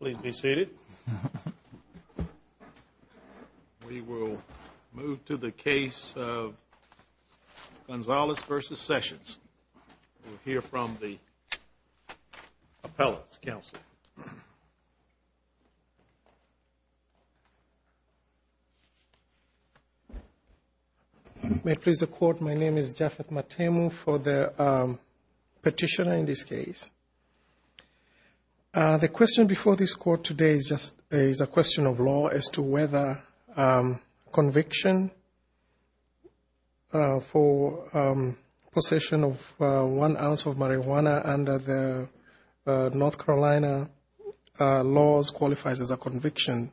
Please be seated. We will move to the case of Gonzalez v. Sessions. We will hear from the appellants. Counsel? May it please the Court, my name is Japheth Matemu for the petitioner in this case. The question before this case of marijuana under the North Carolina laws qualifies as a conviction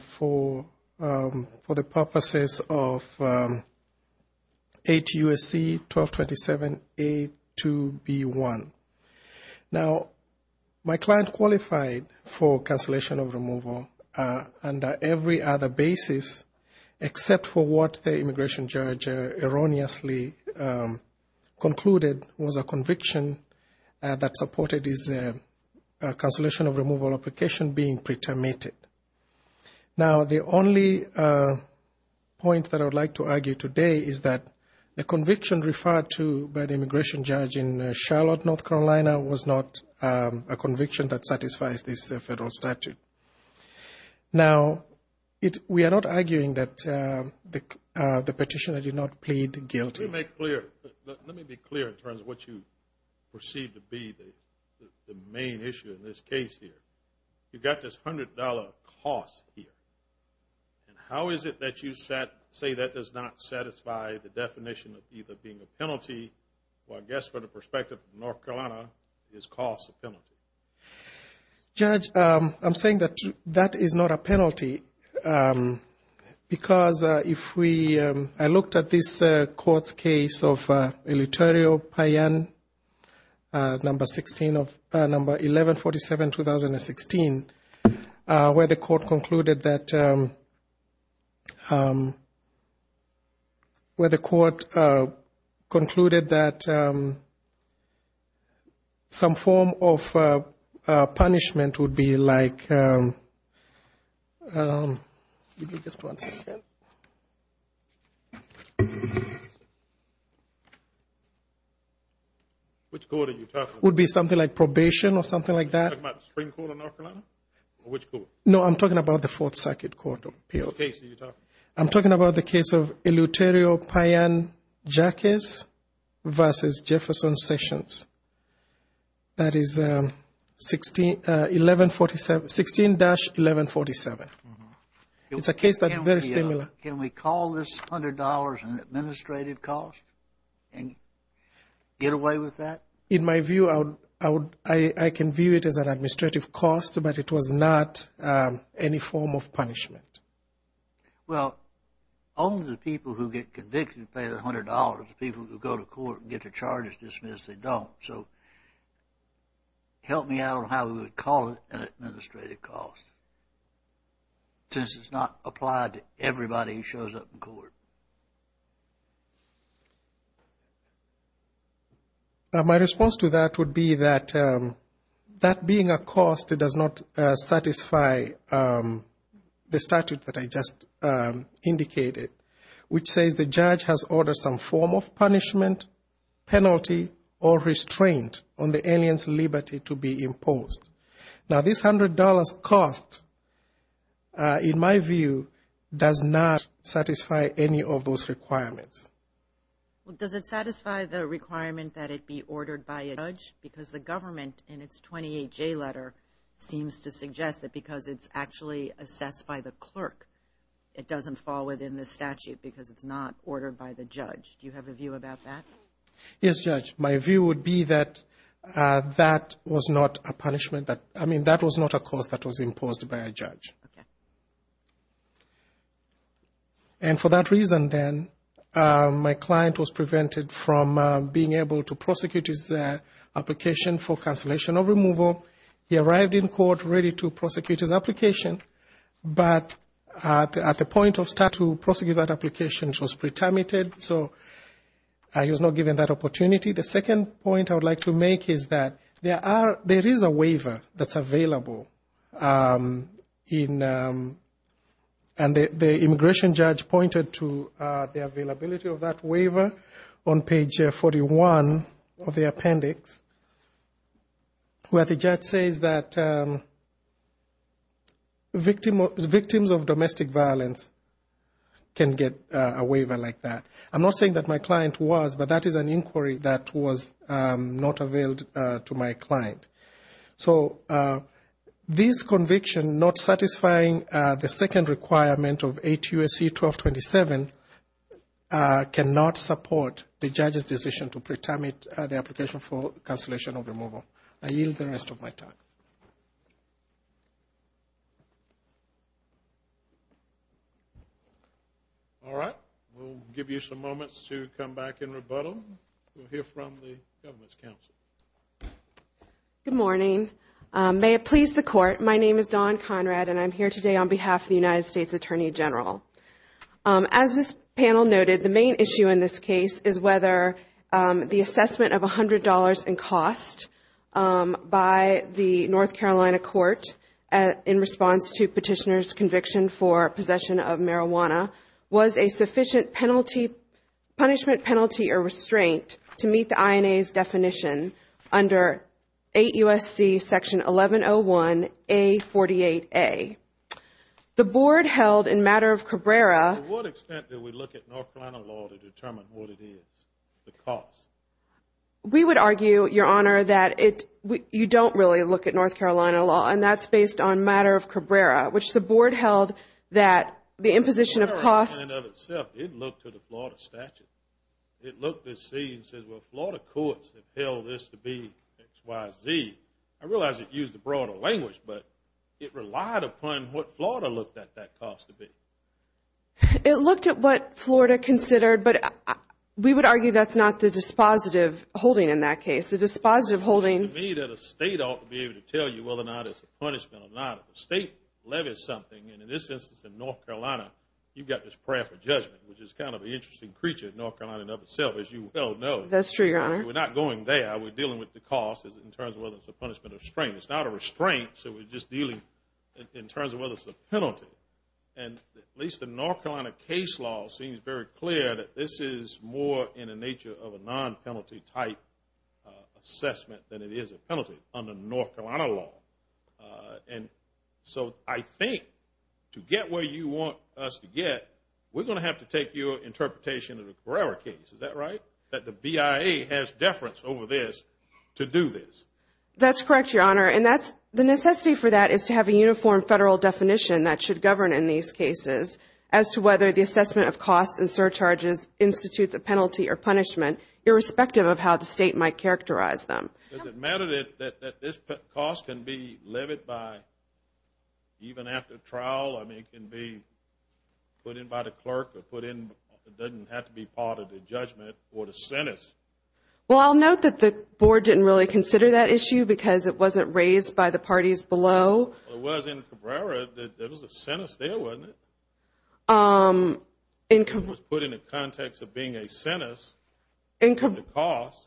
for the purposes of 8 U.S.C. 1227 A2B1. Now my client qualified for conviction that supported his cancellation of removal application being pretermited. Now the only point that I would like to argue today is that the conviction referred to by the immigration judge in Charlotte, North Carolina was not a conviction that satisfies this federal statute. Now we are not arguing that the petitioner did not plead guilty. Let me be clear in terms of what you perceive to be the main issue in this case here. You got this $100 cost here. And how is it that you say that does not satisfy the definition of either being a penalty or I guess from the perspective of North Carolina, is cost a penalty? Judge, I'm saying that that is not a penalty. Because if we, I looked at this court's case of Eleuterio Payan, number 1147-2016, where the court concluded that some form of Which court are you talking about? Would be something like probation or something like that? Are you talking about the Supreme Court of North Carolina? Or which court? No, I'm talking about the 1147, 16-1147. It's a case that's very similar. Can we call this $100 an administrative cost and get away with that? In my view, I can view it as an administrative cost, but it was not any form of punishment. Well, only the people who get convicted pay the $100. The people who go to court and get their charges dismissed, they don't. So help me out on how we would call it an administrative cost. Since it's not applied to everybody who shows up in court. My response to that would be that that being a cost, it does not satisfy the statute that I just indicated, which says the judge has ordered some form of punishment, penalty or restraint on the alien's liberty to be imposed. Now, this $100 cost, in my view, does not satisfy any of those requirements. Well, does it satisfy the requirement that it be ordered by a judge? Because the government in its 28J letter seems to suggest that because it's actually assessed by the clerk, it doesn't fall within the statute because it's not ordered by the judge. Do you have a view about that? Yes, Judge. My view would be that that was not a punishment. I mean, that was not a cost that was imposed by a judge. And for that reason, then, my client was prevented from being able to prosecute his application for cancellation of removal. He arrived in court ready to prosecute his application, but at the point of statute, to prosecute that application, he was pre-terminated, so he was not given that opportunity. The second point I would like to make is that there is a waiver that's available. And the immigration judge pointed to the availability of that waiver on page 41 of the appendix, where the judge says that victims of domestic violence, can get a waiver like that. I'm not saying that my client was, but that is an inquiry that was not availed to my client. So this conviction not satisfying the second requirement of 8 U.S.C. 1227 cannot support the judge's decision to pre-terminate the application for cancellation of removal. I yield the rest of my time. All right. We'll give you some moments to come back in rebuttal. We'll hear from the government's counsel. Good morning. May it please the Court, my name is Dawn Conrad, and I'm here today on behalf of the United States Attorney General. As this panel noted, the main issue in this case is whether the assessment of $100 in cost by the North Carolina court in response to petitioner's conviction for possession of marijuana was a sufficient punishment, penalty, or restraint to meet the INA's definition. Under 8 U.S.C. section 1101A48A. The board held in matter of Cabrera. To what extent do we look at North Carolina law to determine what it is, the cost? We would argue, Your Honor, that you don't really look at North Carolina law, and that's based on matter of Cabrera, which the board held that the imposition of cost. In and of itself, it looked to the Florida statute. It looked to see and said, well, Florida courts have held this to be XYZ. I realize it used the broader language, but it relied upon what Florida looked at that cost to be. It looked at what Florida considered, but we would argue that's not the dispositive holding in that case, the dispositive holding. To me, that a state ought to be able to tell you whether or not it's a punishment or not. If a state levies something, and in this instance in North Carolina, you've got this prayer for judgment, which is kind of an interesting creature in North Carolina in and of itself, as you well know. That's true, Your Honor. We're not going there. We're dealing with the cost in terms of whether it's a punishment or restraint. It's not a restraint, so we're just dealing in terms of whether it's a penalty. At least the North Carolina case law seems very clear that this is more in the nature of a non-penalty type assessment than it is a penalty under North Carolina law. I think to get where you want us to get, we're going to have to take your interpretation of the Cabrera case. Is that right? That the BIA has deference over this to do this. That's correct, Your Honor, and the necessity for that is to have a uniform federal definition that should govern in these cases as to whether the assessment of costs and surcharges institutes a penalty or punishment, irrespective of how the state might characterize them. Does it matter that this cost can be levied by, even after trial, I mean it can be put in by the clerk or put in, it doesn't have to be part of the judgment or the sentence? Well, I'll note that the board didn't really consider that issue because it wasn't raised by the parties below. Well, it was in Cabrera that there was a sentence there, wasn't it? It was put in the context of being a sentence.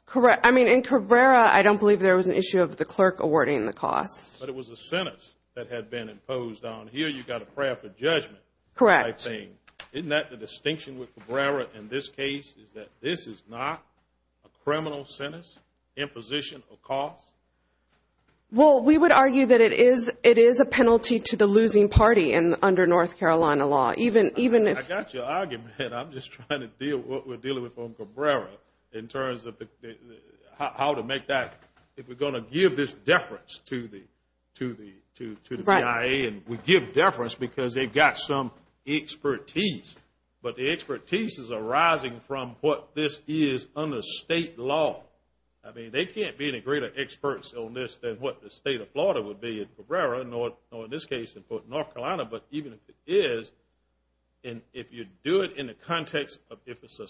Correct. I mean, in Cabrera, I don't believe there was an issue of the clerk awarding the costs. But it was a sentence that had been imposed on, here you've got a prayer for judgment. Correct. Isn't that the distinction with Cabrera in this case is that this is not a criminal sentence, imposition of costs? Well, we would argue that it is a penalty to the losing party under North Carolina law. I got your argument. I'm just trying to deal with what we're dealing with on Cabrera in terms of how to make that, if we're going to give this deference to the BIA. And we give deference because they've got some expertise. But the expertise is arising from what this is under state law. I mean, they can't be any greater experts on this than what the state of Florida would be in Cabrera, or in this case in North Carolina. But even if it is, and if you do it in the context of if it's a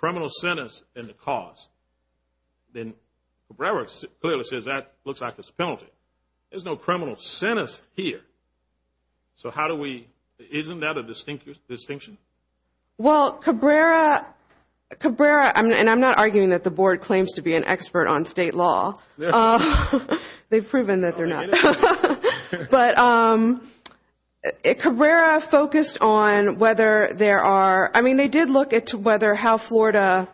criminal sentence in the cause, then Cabrera clearly says that looks like it's a penalty. There's no criminal sentence here. So how do we, isn't that a distinction? Well, Cabrera, and I'm not arguing that the board claims to be an expert on state law. They've proven that they're not. But Cabrera focused on whether there are, I mean, they did look at whether how Florida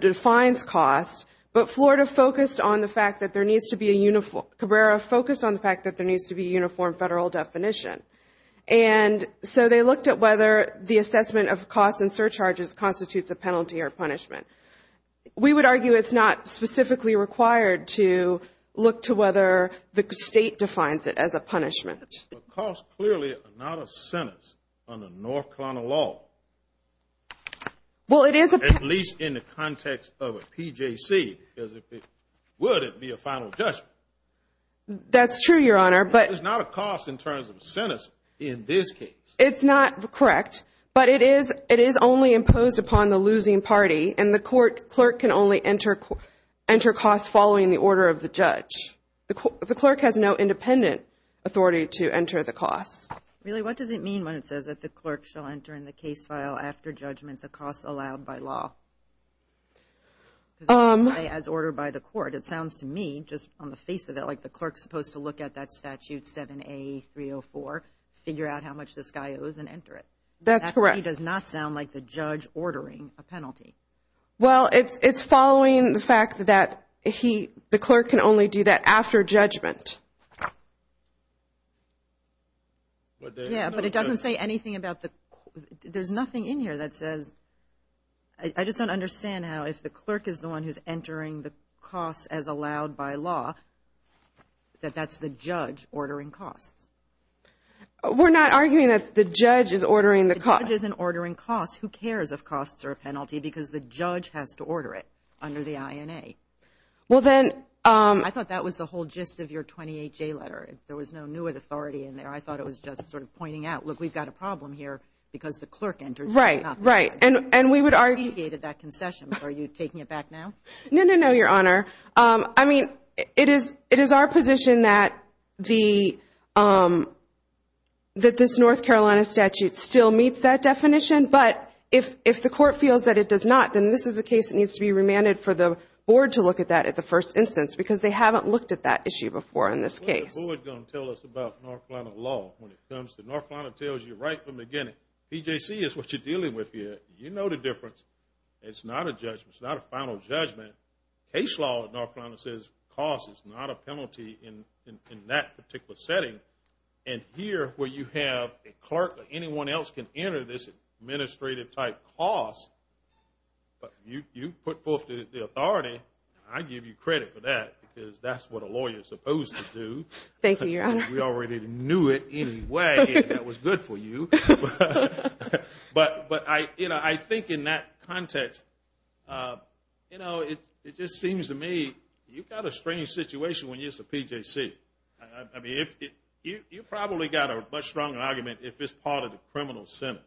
defines costs. But Florida focused on the fact that there needs to be a uniform, Cabrera focused on the fact that there needs to be a uniform federal definition. And so they looked at whether the assessment of costs and surcharges constitutes a penalty or punishment. We would argue it's not specifically required to look to whether the state defines it as a punishment. But costs clearly are not a sentence under North Carolina law. Well, it is a penalty. At least in the context of a PJC, because if it would, it would be a final judgment. That's true, Your Honor. But it's not a cost in terms of a sentence in this case. It's not correct. But it is only imposed upon the losing party, and the clerk can only enter costs following the order of the judge. The clerk has no independent authority to enter the costs. Really? What does it mean when it says that the clerk shall enter in the case file after judgment the costs allowed by law? As ordered by the court. It sounds to me, just on the face of it, like the clerk's supposed to look at that statute 7A304, figure out how much this guy owes, and enter it. That's correct. That really does not sound like the judge ordering a penalty. Well, it's following the fact that he, the clerk can only do that after judgment. Yeah, but it doesn't say anything about the, there's nothing in here that says, I just don't understand how if the clerk is the one who's entering the costs as allowed by law, that that's the judge ordering costs. We're not arguing that the judge is ordering the costs. The judge isn't ordering costs. Who cares if costs are a penalty because the judge has to order it under the INA. Well, then. I thought that was the whole gist of your 28J letter. There was no new authority in there. I thought it was just sort of pointing out, look, we've got a problem here because the clerk enters. Right, right. And we would argue. Are you taking it back now? No, no, no, Your Honor. I mean, it is our position that this North Carolina statute still meets that definition. But if the court feels that it does not, then this is a case that needs to be remanded for the board to look at that at the first instance because they haven't looked at that issue before in this case. What is the board going to tell us about North Carolina law when it comes to North Carolina? It tells you right from the beginning. BJC is what you're dealing with here. You know the difference. It's not a judgment. It's not a final judgment. Case law in North Carolina says cost is not a penalty in that particular setting. And here where you have a clerk or anyone else can enter this administrative type cost, but you put forth the authority, I give you credit for that because that's what a lawyer is supposed to do. Thank you, Your Honor. We already knew it anyway, and that was good for you. But, you know, I think in that context, you know, it just seems to me you've got a strange situation when you're a BJC. I mean, you probably got a much stronger argument if it's part of the criminal sentence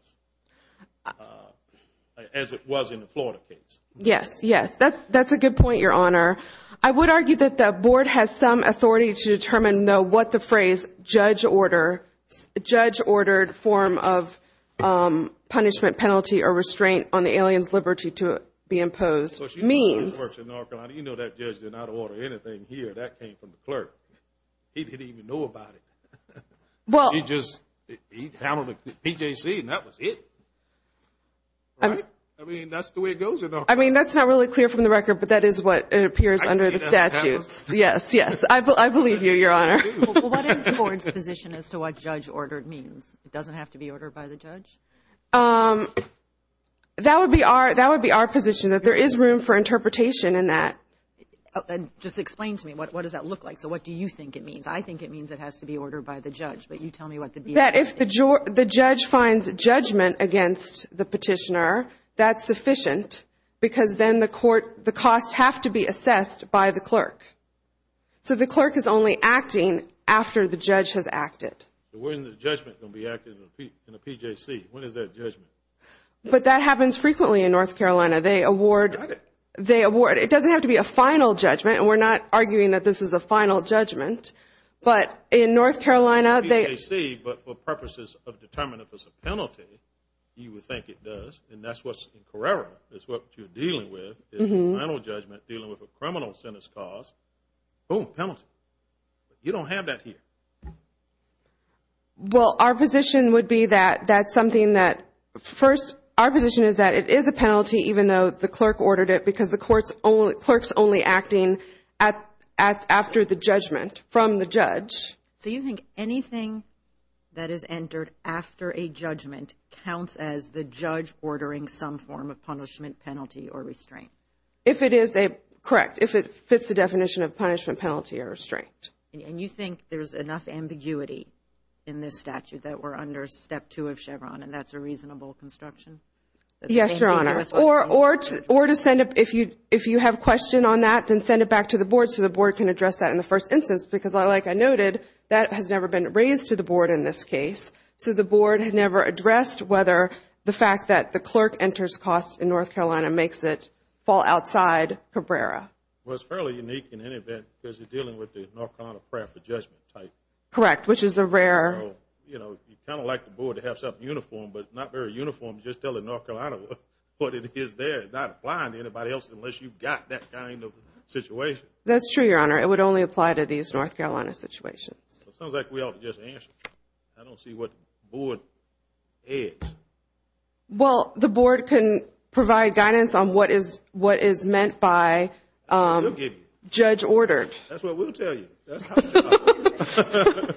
as it was in the Florida case. Yes, yes. That's a good point, Your Honor. I would argue that the board has some authority to determine, though, what the phrase judge-ordered form of punishment, penalty, or restraint on the alien's liberty to be imposed means. Of course, you know how it works in North Carolina. You know that judge did not order anything here. That came from the clerk. He didn't even know about it. Well. He just, he handled the BJC, and that was it. Right? I mean, that's the way it goes in North Carolina. I mean, that's not really clear from the record, but that is what appears under the statutes. Yes, yes. I believe you, Your Honor. What is the board's position as to what judge-ordered means? It doesn't have to be ordered by the judge? That would be our position, that there is room for interpretation in that. Just explain to me. What does that look like? So what do you think it means? I think it means it has to be ordered by the judge, but you tell me what the BJC means. That if the judge finds judgment against the petitioner, that's sufficient because then the court, the costs have to be assessed by the clerk. So the clerk is only acting after the judge has acted. When is the judgment going to be acted in a BJC? When is that judgment? But that happens frequently in North Carolina. They award. Got it. It doesn't have to be a final judgment, and we're not arguing that this is a final judgment, but in North Carolina they – BJC, but for purposes of determining if it's a penalty, you would think it does, and that's what's in Carrera is what you're dealing with, is a final judgment dealing with a criminal sentence cause, boom, penalty. You don't have that here. Well, our position would be that that's something that first – our position is that it is a penalty even though the clerk ordered it from the judge. So you think anything that is entered after a judgment counts as the judge ordering some form of punishment, penalty, or restraint? If it is a – correct. If it fits the definition of punishment, penalty, or restraint. And you think there's enough ambiguity in this statute that we're under Step 2 of Chevron, and that's a reasonable construction? Yes, Your Honor. Or to send a – if you have a question on that, then send it back to the board and the board can address that in the first instance because, like I noted, that has never been raised to the board in this case, so the board had never addressed whether the fact that the clerk enters costs in North Carolina makes it fall outside Carrera. Well, it's fairly unique in any event because you're dealing with the North Carolina prayer for judgment type. Correct, which is a rare – So, you know, you kind of like the board to have something uniform, but not very uniform just telling North Carolina what it is there, not applying to anybody else unless you've got that kind of situation. That's true, Your Honor. It would only apply to these North Carolina situations. It sounds like we ought to just answer. I don't see what the board adds. Well, the board can provide guidance on what is meant by judge ordered. That's what we'll tell you. That's how we do it.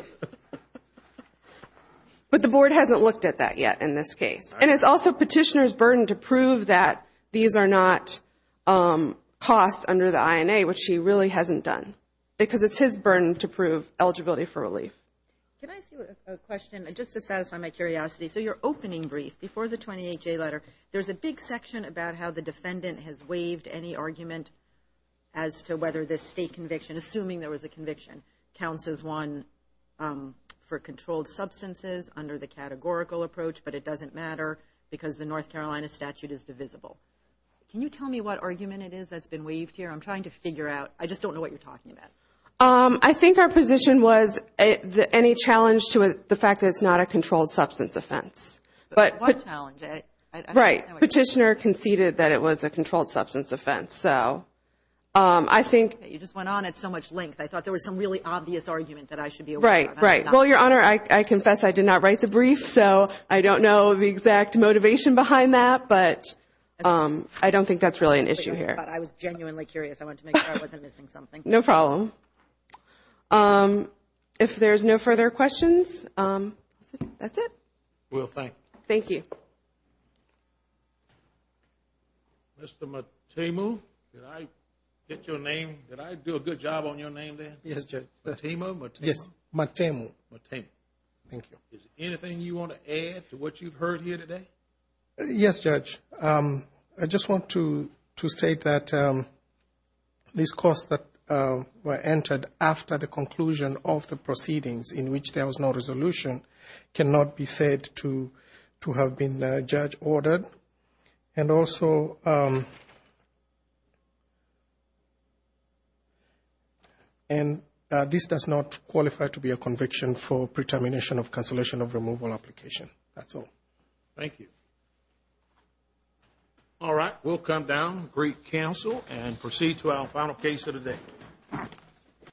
But the board hasn't looked at that yet in this case. And it's also petitioner's burden to prove that these are not costs under the INA, which he really hasn't done because it's his burden to prove eligibility for relief. Can I ask you a question just to satisfy my curiosity? So your opening brief before the 28-J letter, there's a big section about how the defendant has waived any argument as to whether this state conviction, assuming there was a conviction, counts as one for controlled substances under the categorical approach, but it doesn't matter because the North Carolina statute is divisible. Can you tell me what argument it is that's been waived here? I'm trying to figure out. I just don't know what you're talking about. I think our position was any challenge to the fact that it's not a controlled substance offense. But what challenge? Right. Petitioner conceded that it was a controlled substance offense. So I think. You just went on at so much length. I thought there was some really obvious argument that I should be aware of. Right, right. Well, Your Honor, I confess I did not write the brief, so I don't know the exact motivation behind that, but I don't think that's really an issue here. I thought I was genuinely curious. I wanted to make sure I wasn't missing something. No problem. If there's no further questions, that's it. We'll thank you. Thank you. Mr. Matemu, did I get your name? Did I do a good job on your name there? Yes, Judge. Matemu? Yes, Matemu. Matemu. Thank you. Is there anything you want to add to what you've heard here today? Yes, Judge. I just want to state that these costs that were entered after the conclusion of the proceedings in which there was no resolution cannot be said to have been, Judge, ordered. And also this does not qualify to be a conviction for pre-termination of cancellation of removal application. That's all. Thank you. All right. We'll come down and greet counsel and proceed to our final case of the day.